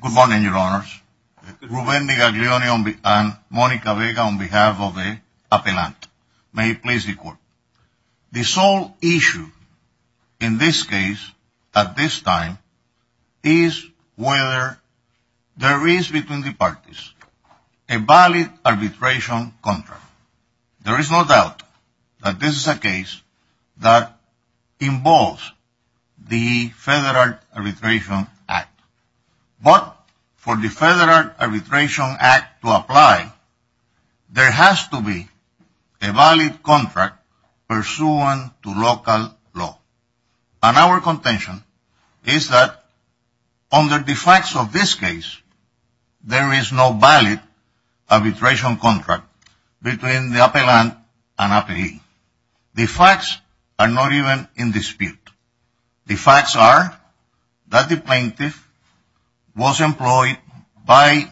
Good morning, Your Honors. Ruben DeGaglione and Monica Vega on behalf of the appellant. May it please the Court. The sole issue in this case at this time is whether there is between the parties a valid arbitration contract. There is no doubt that this is a case that involves the Federal Arbitration Act. But for the Federal Arbitration Act to apply, there has to be a valid contract pursuant to local law. And our contention is that under the facts of this case, there is no valid arbitration contract between the appellant and appellee. The facts are not even in dispute. The facts are that the plaintiff was employed by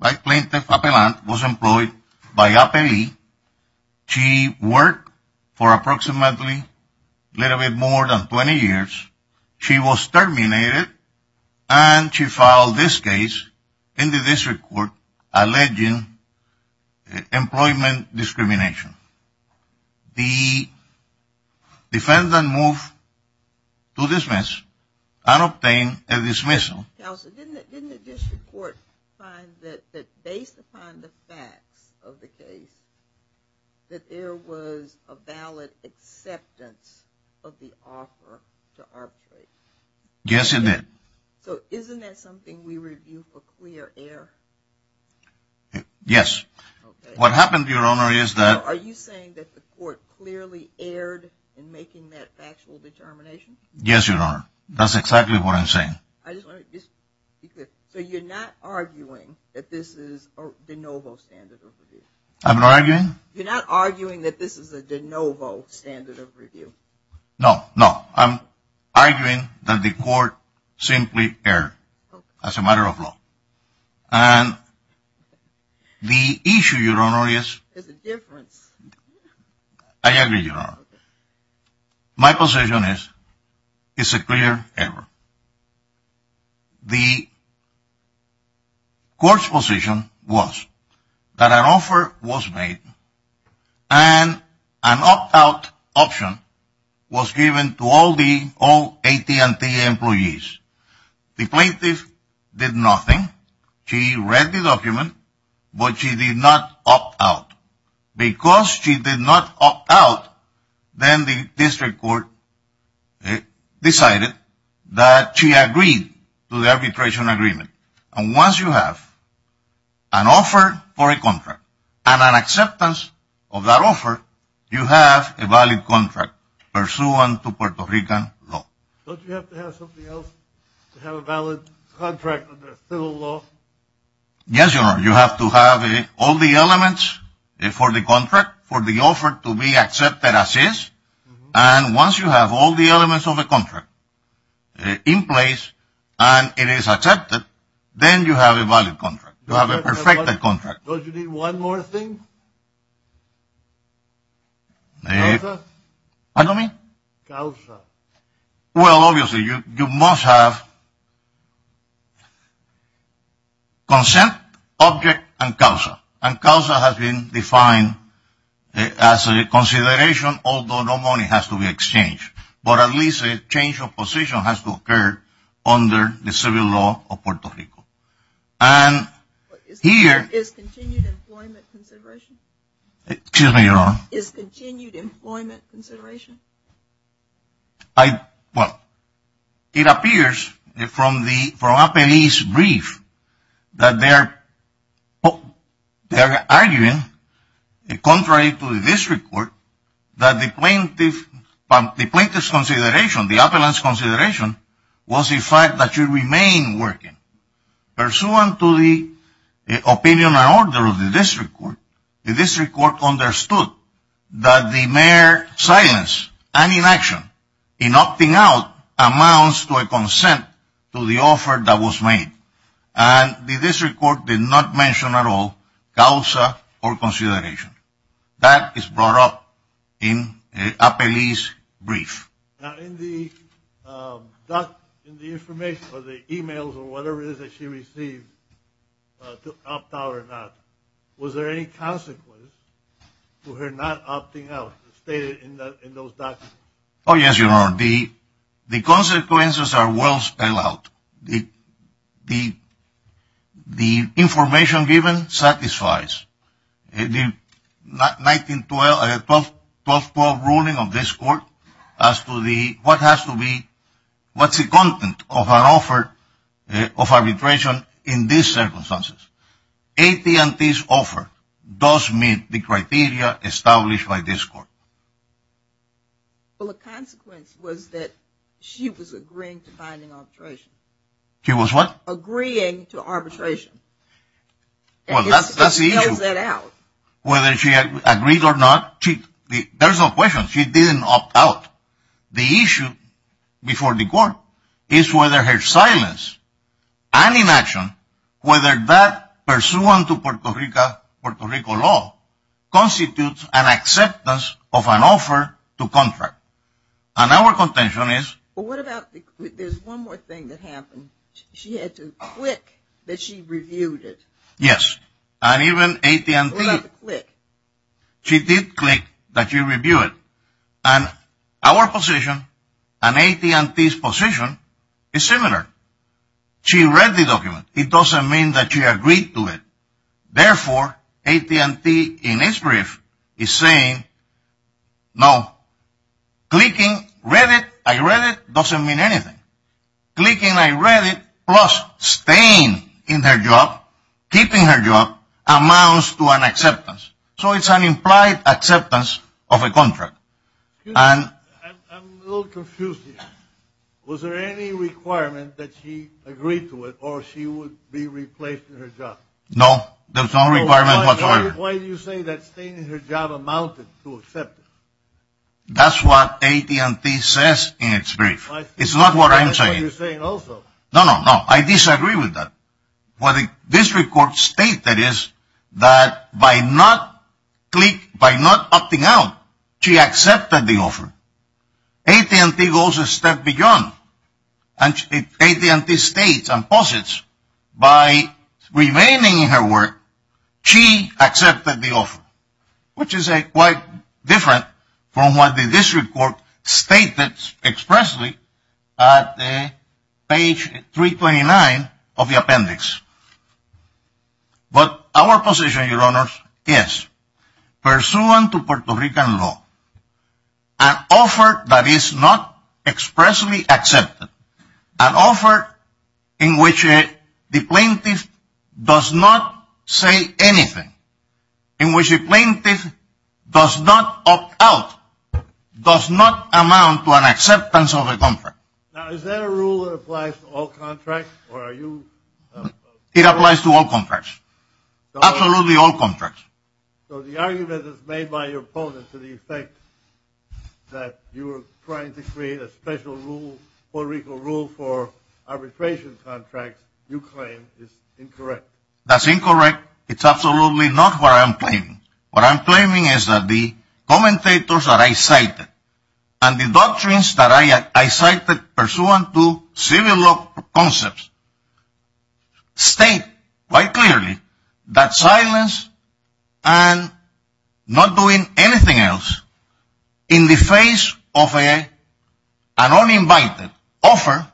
appellee. She worked for approximately a little bit more than 20 years. She was terminated and she filed this case in the District Court alleging employment discrimination. The defendant moved to dismiss and obtained a dismissal. Counsel, didn't the District Court find that based upon the facts of the case, that there was a valid acceptance of the offer to arbitrate? Yes, it did. So isn't that something we review for clear error? Yes. What happened, Your Honor, is that... Are you saying that the Court clearly erred in making that factual determination? So you're not arguing that this is a de novo standard of review? I'm not arguing... You're not arguing that this is a de novo standard of review? No, no. I'm arguing that the Court simply erred as a matter of law. And the issue, Your Honor, is... There's a difference. I agree, Your Honor. My position is it's a clear error. The Court's position was that an offer was made and an opt-out option was given to all the AT&T employees. The plaintiff did nothing. She read the document, but she did not opt out. Because she did not opt out, then the District Court decided that she agreed to the arbitration agreement. And once you have an offer for a contract and an acceptance of that offer, you have a valid contract pursuant to Puerto Rican law. Don't you have to have something else to have a valid contract under federal law? Yes, Your Honor. You have to have all the elements for the contract for the offer to be accepted as is. And once you have all the elements of a contract in place and it is accepted, then you have a valid contract. You have a perfected contract. Don't you need one more thing? What do you mean? Well, obviously, you must have consent, object, and causa. And causa has been defined as a consideration, although no money has to be exchanged. But at least a change of position has to occur under the civil law of Puerto Rico. And here... Excuse me, Your Honor. Is continued employment consideration? Well, it appears from the appellee's brief that they're arguing, contrary to the District Court, that the plaintiff's consideration, the appellant's consideration, was the fact that you remain working. Pursuant to the opinion and order of the District Court, the District Court understood that the mayor's silence and inaction in opting out amounts to a consent to the offer that was made. And the District Court did not mention at all causa or consideration. That is brought up in the appellee's brief. Now, in the information or the e-mails or whatever it is that she received to opt out or not, was there any consequence to her not opting out as stated in those documents? Oh, yes, Your Honor. The consequences are well spelled out. The information given satisfies. The 1912 ruling of this court as to what has to be, what's the content of an offer of arbitration in these circumstances. AT&T's offer does meet the criteria established by this court. Well, the consequence was that she was agreeing to binding arbitration. She was what? Agreeing to arbitration. Well, that's the issue. It spells that out. Whether she agreed or not, there's no question. She didn't opt out. The issue before the court is whether her silence and inaction, whether that pursuant to Puerto Rico law, constitutes an acceptance of an offer to contract. And our contention is. Well, what about, there's one more thing that happened. She had to click that she reviewed it. Yes. And even AT&T. Click. She did click that she reviewed it. And our position and AT&T's position is similar. She read the document. It doesn't mean that she agreed to it. Therefore, AT&T in its brief is saying, no, clicking read it, I read it, doesn't mean anything. Clicking I read it plus staying in her job, keeping her job, amounts to an acceptance. So it's an implied acceptance of a contract. I'm a little confused here. Was there any requirement that she agreed to it or she would be replaced in her job? No, there's no requirement whatsoever. Why do you say that staying in her job amounted to acceptance? That's what AT&T says in its brief. It's not what I'm saying. That's what you're saying also. No, no, no. I disagree with that. What the district court stated is that by not clicking, by not opting out, she accepted the offer. AT&T goes a step beyond. And AT&T states and posits by remaining in her work, she accepted the offer, which is quite different from what the district court stated expressly at page 329 of the appendix. But our position, Your Honors, is pursuant to Puerto Rican law, an offer that is not expressly accepted, an offer in which the plaintiff does not say anything, in which the plaintiff does not opt out, does not amount to an acceptance of a contract. Now, is there a rule that applies to all contracts? It applies to all contracts, absolutely all contracts. So the argument is made by your opponent to the effect that you are trying to create a special rule, Puerto Rican rule for arbitration contracts you claim is incorrect. That's incorrect. It's absolutely not what I'm claiming. What I'm claiming is that the commentators that I cited and the doctrines that I cited pursuant to civil law concepts state quite clearly that silence and not doing anything else in the face of an uninvited offer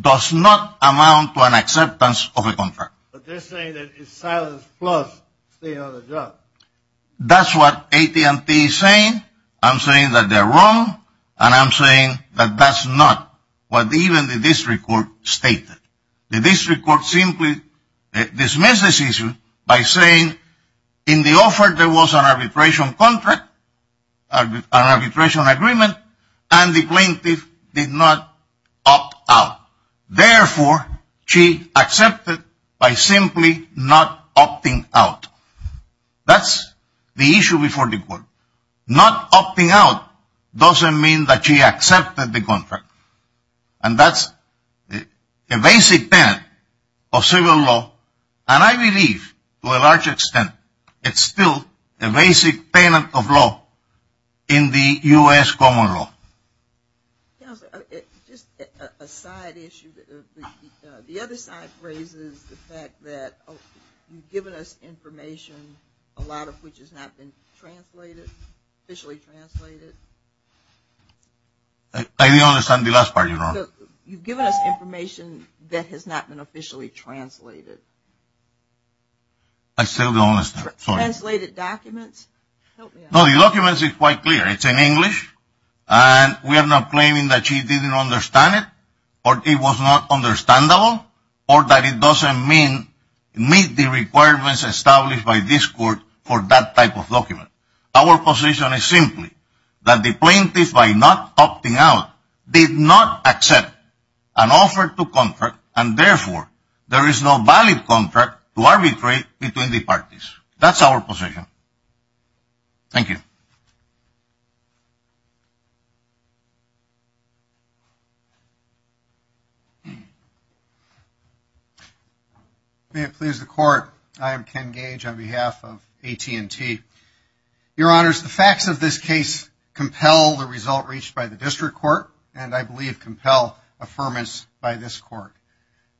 does not amount to an acceptance of a contract. But they're saying that it's silence plus staying on the job. That's what AT&T is saying. I'm saying that they're wrong, and I'm saying that that's not what even the district court stated. The district court simply dismissed this issue by saying in the offer there was an arbitration contract, an arbitration agreement, and the plaintiff did not opt out. Therefore, she accepted by simply not opting out. That's the issue before the court. Not opting out doesn't mean that she accepted the contract, and that's a basic tenet of civil law, and I believe to a large extent it's still a basic tenet of law in the U.S. common law. Just a side issue. The other side raises the fact that you've given us information, a lot of which has not been translated, officially translated. I didn't understand the last part, Your Honor. You've given us information that has not been officially translated. I still don't understand. Translated documents. No, the documents are quite clear. It's in English, and we are not claiming that she didn't understand it or it was not understandable or that it doesn't meet the requirements established by this court for that type of document. Our position is simply that the plaintiff, by not opting out, did not accept an offer to contract, and therefore there is no valid contract to arbitrate between the parties. That's our position. Thank you. May it please the Court. I am Ken Gage on behalf of AT&T. Your Honors, the facts of this case compel the result reached by the district court, and I believe compel affirmance by this court.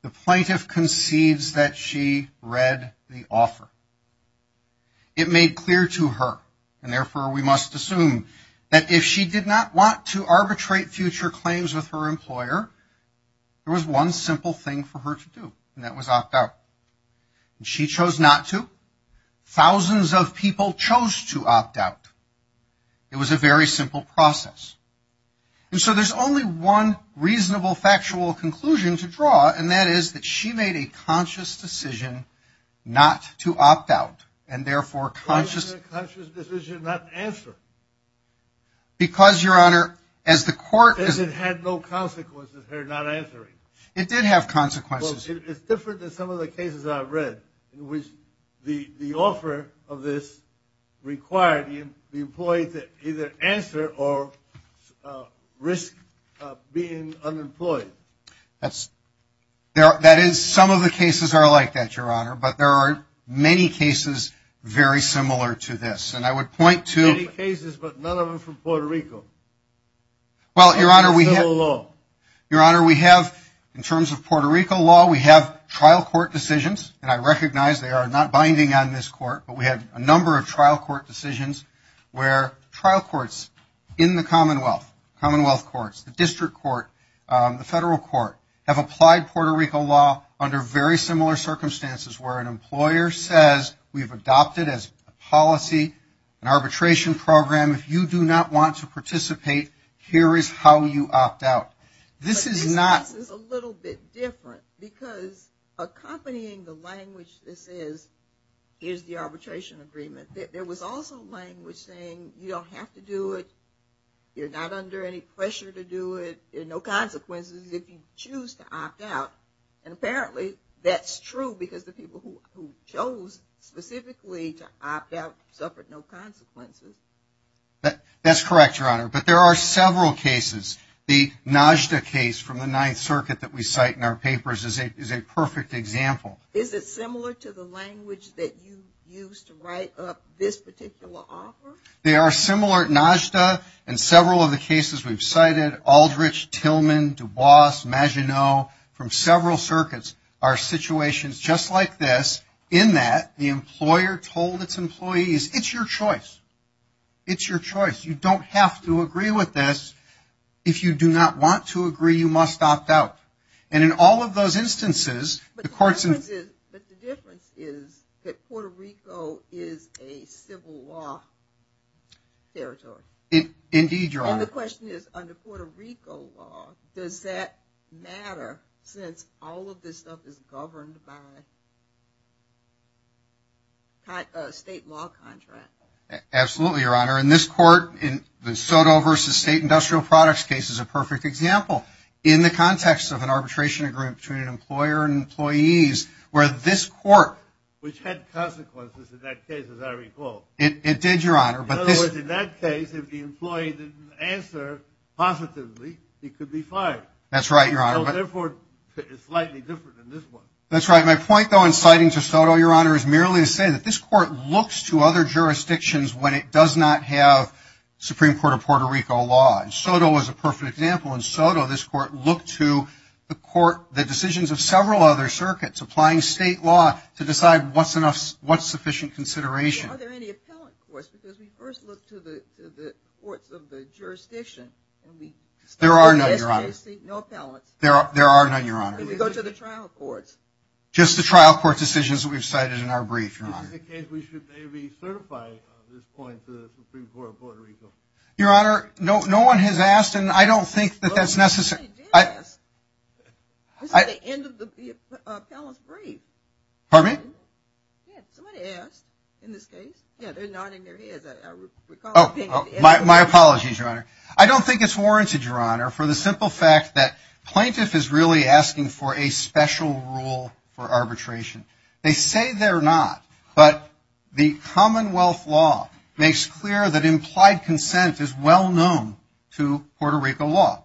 The plaintiff conceives that she read the offer. It made clear to her, and therefore we must assume, that if she did not want to arbitrate future claims with her employer, there was one simple thing for her to do, and that was opt out. She chose not to. Thousands of people chose to opt out. It was a very simple process. And so there's only one reasonable factual conclusion to draw, and that is that she made a conscious decision not to opt out, and therefore conscious. Why was it a conscious decision not to answer? Because, Your Honor, as the court. Because it had no consequences, her not answering. It did have consequences. Well, it's different than some of the cases I've read, in which the offer of this required the employee to either answer or risk being unemployed. That is, some of the cases are like that, Your Honor, but there are many cases very similar to this. And I would point to. Many cases, but none of them from Puerto Rico. Well, Your Honor, we have. Or from federal law. Your Honor, we have, in terms of Puerto Rico law, we have trial court decisions, and I recognize they are not binding on this court, but we have a number of trial court decisions where trial courts in the commonwealth, commonwealth courts, the district court, the federal court, have applied Puerto Rico law under very similar circumstances, where an employer says we've adopted as a policy an arbitration program. If you do not want to participate, here is how you opt out. This is not. This is a little bit different, because accompanying the language that says here is the arbitration agreement, there was also language saying you don't have to do it, you're not under any pressure to do it, there are no consequences if you choose to opt out, and apparently that's true because the people who chose specifically to opt out suffered no consequences. That's correct, Your Honor. But there are several cases. The Najda case from the Ninth Circuit that we cite in our papers is a perfect example. Is it similar to the language that you used to write up this particular offer? They are similar. Najda and several of the cases we've cited, Aldrich, Tillman, DuBois, Maginot, from several circuits are situations just like this in that the employer told its employees, it's your choice. It's your choice. You don't have to agree with this. If you do not want to agree, you must opt out. And in all of those instances, the courts... But the difference is that Puerto Rico is a civil law territory. Indeed, Your Honor. And the question is, under Puerto Rico law, does that matter since all of this stuff is governed by a state law contract? Absolutely, Your Honor. In this court, the Soto v. State Industrial Products case is a perfect example. In the context of an arbitration agreement between an employer and employees, where this court... Which had consequences in that case, as I recall. It did, Your Honor. In other words, in that case, if the employee didn't answer positively, he could be fired. That's right, Your Honor. Therefore, it's slightly different than this one. My point, though, in citing to Soto, Your Honor, is merely to say that this court looks to other jurisdictions when it does not have Supreme Court of Puerto Rico law. Soto is a perfect example. In Soto, this court looked to the decisions of several other circuits applying state law to decide what's sufficient consideration. Are there any appellate courts? Because we first looked to the courts of the jurisdiction. There are none, Your Honor. No appellates. There are none, Your Honor. Can we go to the trial courts? Just the trial court decisions that we've cited in our brief, Your Honor. In that case, we should maybe certify this point to the Supreme Court of Puerto Rico. Your Honor, no one has asked, and I don't think that that's necessary. Somebody did ask. This is the end of the appellate's brief. Pardon me? Yeah, somebody asked in this case. Yeah, they're nodding their heads, I recall. Oh, my apologies, Your Honor. I don't think it's warranted, Your Honor, for the simple fact that plaintiff is really asking for a special rule for arbitration. They say they're not, but the Commonwealth law makes clear that implied consent is well-known to Puerto Rico law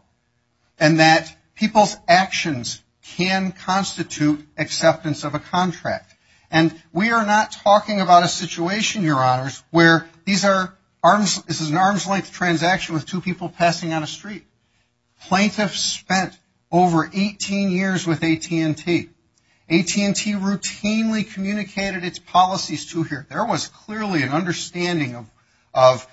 and that people's actions can constitute acceptance of a contract. And we are not talking about a situation, Your Honors, where this is an arm's-length transaction with two people passing on a street. Plaintiffs spent over 18 years with AT&T. AT&T routinely communicated its policies to here. There was clearly an understanding of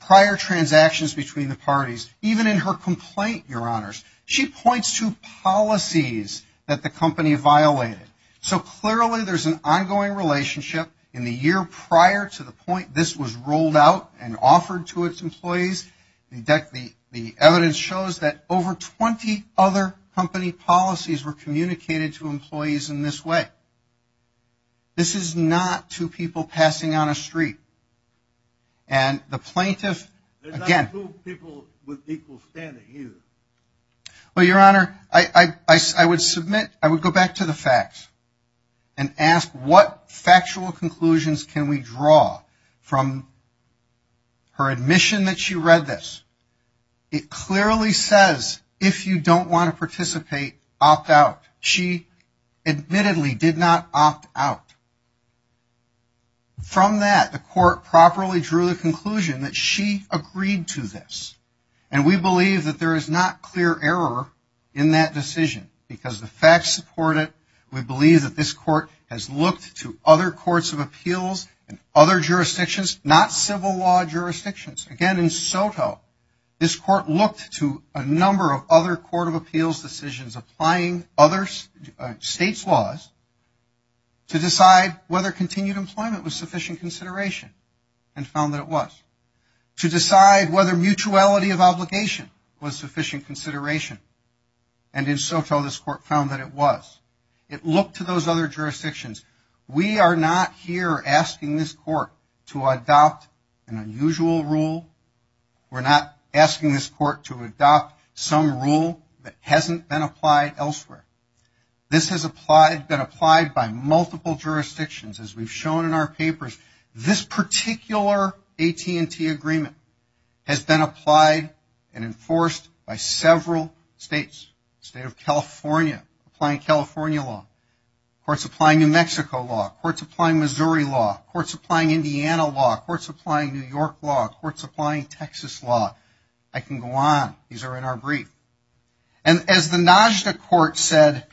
prior transactions between the parties, even in her complaint, Your Honors. She points to policies that the company violated. So clearly there's an ongoing relationship. In the year prior to the point this was rolled out and offered to its employees, the evidence shows that over 20 other company policies were communicated to employees in this way. This is not two people passing on a street. And the plaintiff, again... There's not two people with equal standing, either. Well, Your Honor, I would go back to the facts and ask what factual conclusions can we draw from her admission that she read this. It clearly says, if you don't want to participate, opt out. She admittedly did not opt out. From that, the court properly drew the conclusion that she agreed to this. And we believe that there is not clear error in that decision, because the facts support it. We believe that this court has looked to other courts of appeals and other jurisdictions, not civil law jurisdictions. Again, in Soto, this court looked to a number of other court of appeals decisions, applying other states' laws, to decide whether continued employment was sufficient consideration and found that it was. To decide whether mutuality of obligation was sufficient consideration. And in Soto, this court found that it was. It looked to those other jurisdictions. We are not here asking this court to adopt an unusual rule. We're not asking this court to adopt some rule that hasn't been applied elsewhere. This has been applied by multiple jurisdictions, as we've shown in our papers. This particular AT&T agreement has been applied and enforced by several states. The state of California, applying California law. Courts applying New Mexico law. Courts applying Missouri law. Courts applying Indiana law. Courts applying New York law. Courts applying Texas law. I can go on. These are in our brief. And as the NAJDA court said,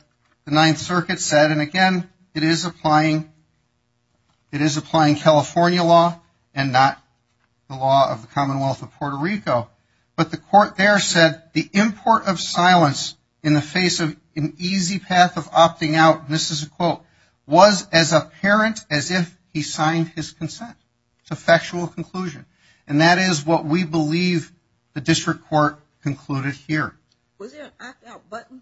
the Ninth Circuit said, and again, it is applying California law and not the law of the Commonwealth of Puerto Rico. But the court there said the import of silence in the face of an easy path of opting out, and this is a quote, was as apparent as if he signed his consent. It's a factual conclusion. And that is what we believe the district court concluded here. Was there an opt-out button?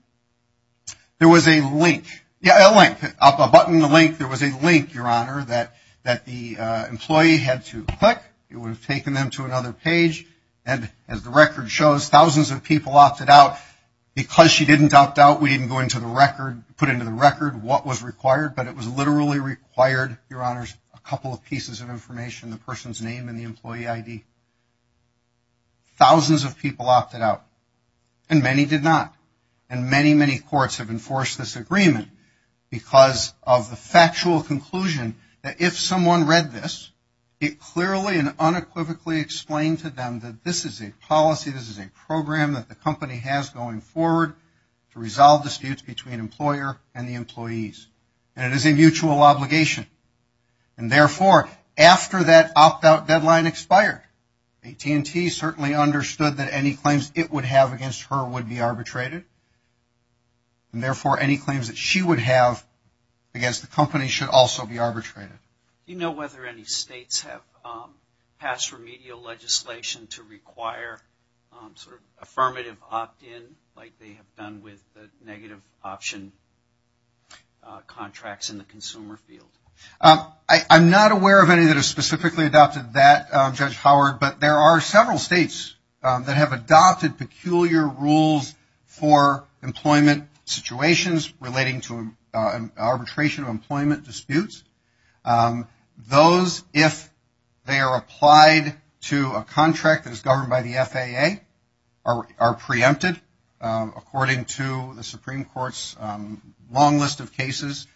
There was a link. Yeah, a link. A button, a link. There was a link, Your Honor, that the employee had to click. It would have taken them to another page. And as the record shows, thousands of people opted out. Because she didn't opt out, we didn't go into the record, put into the record what was required, but it was literally required, Your Honors, a couple of pieces of information, the person's name and the employee ID. Thousands of people opted out, and many did not. And many, many courts have enforced this agreement because of the factual conclusion that if someone read this, it clearly and unequivocally explained to them that this is a policy, this is a program that the company has going forward to resolve disputes between employer and the employees. And it is a mutual obligation. And, therefore, after that opt-out deadline expired, AT&T certainly understood that any claims it would have against her would be arbitrated. And, therefore, any claims that she would have against the company should also be arbitrated. Do you know whether any states have passed remedial legislation to require sort of affirmative opt-in like they have done with the negative option contracts in the consumer field? I'm not aware of any that have specifically adopted that, Judge Howard, but there are several states that have adopted peculiar rules for employment situations relating to arbitration or employment disputes. Those, if they are applied to a contract that is governed by the FAA, are preempted, according to the Supreme Court's long list of cases,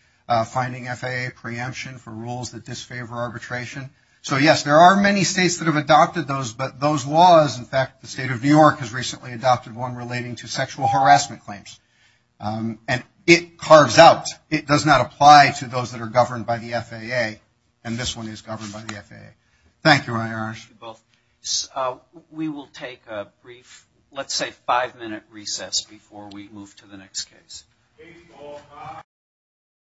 finding FAA preemption for rules that disfavor arbitration. So, yes, there are many states that have adopted those, but those laws, in fact, the state of New York has recently adopted one relating to sexual harassment claims. And it carves out. It does not apply to those that are governed by the FAA, and this one is governed by the FAA. Thank you, Myron. Thank you both. We will take a brief, let's say, five-minute recess before we move to the next case.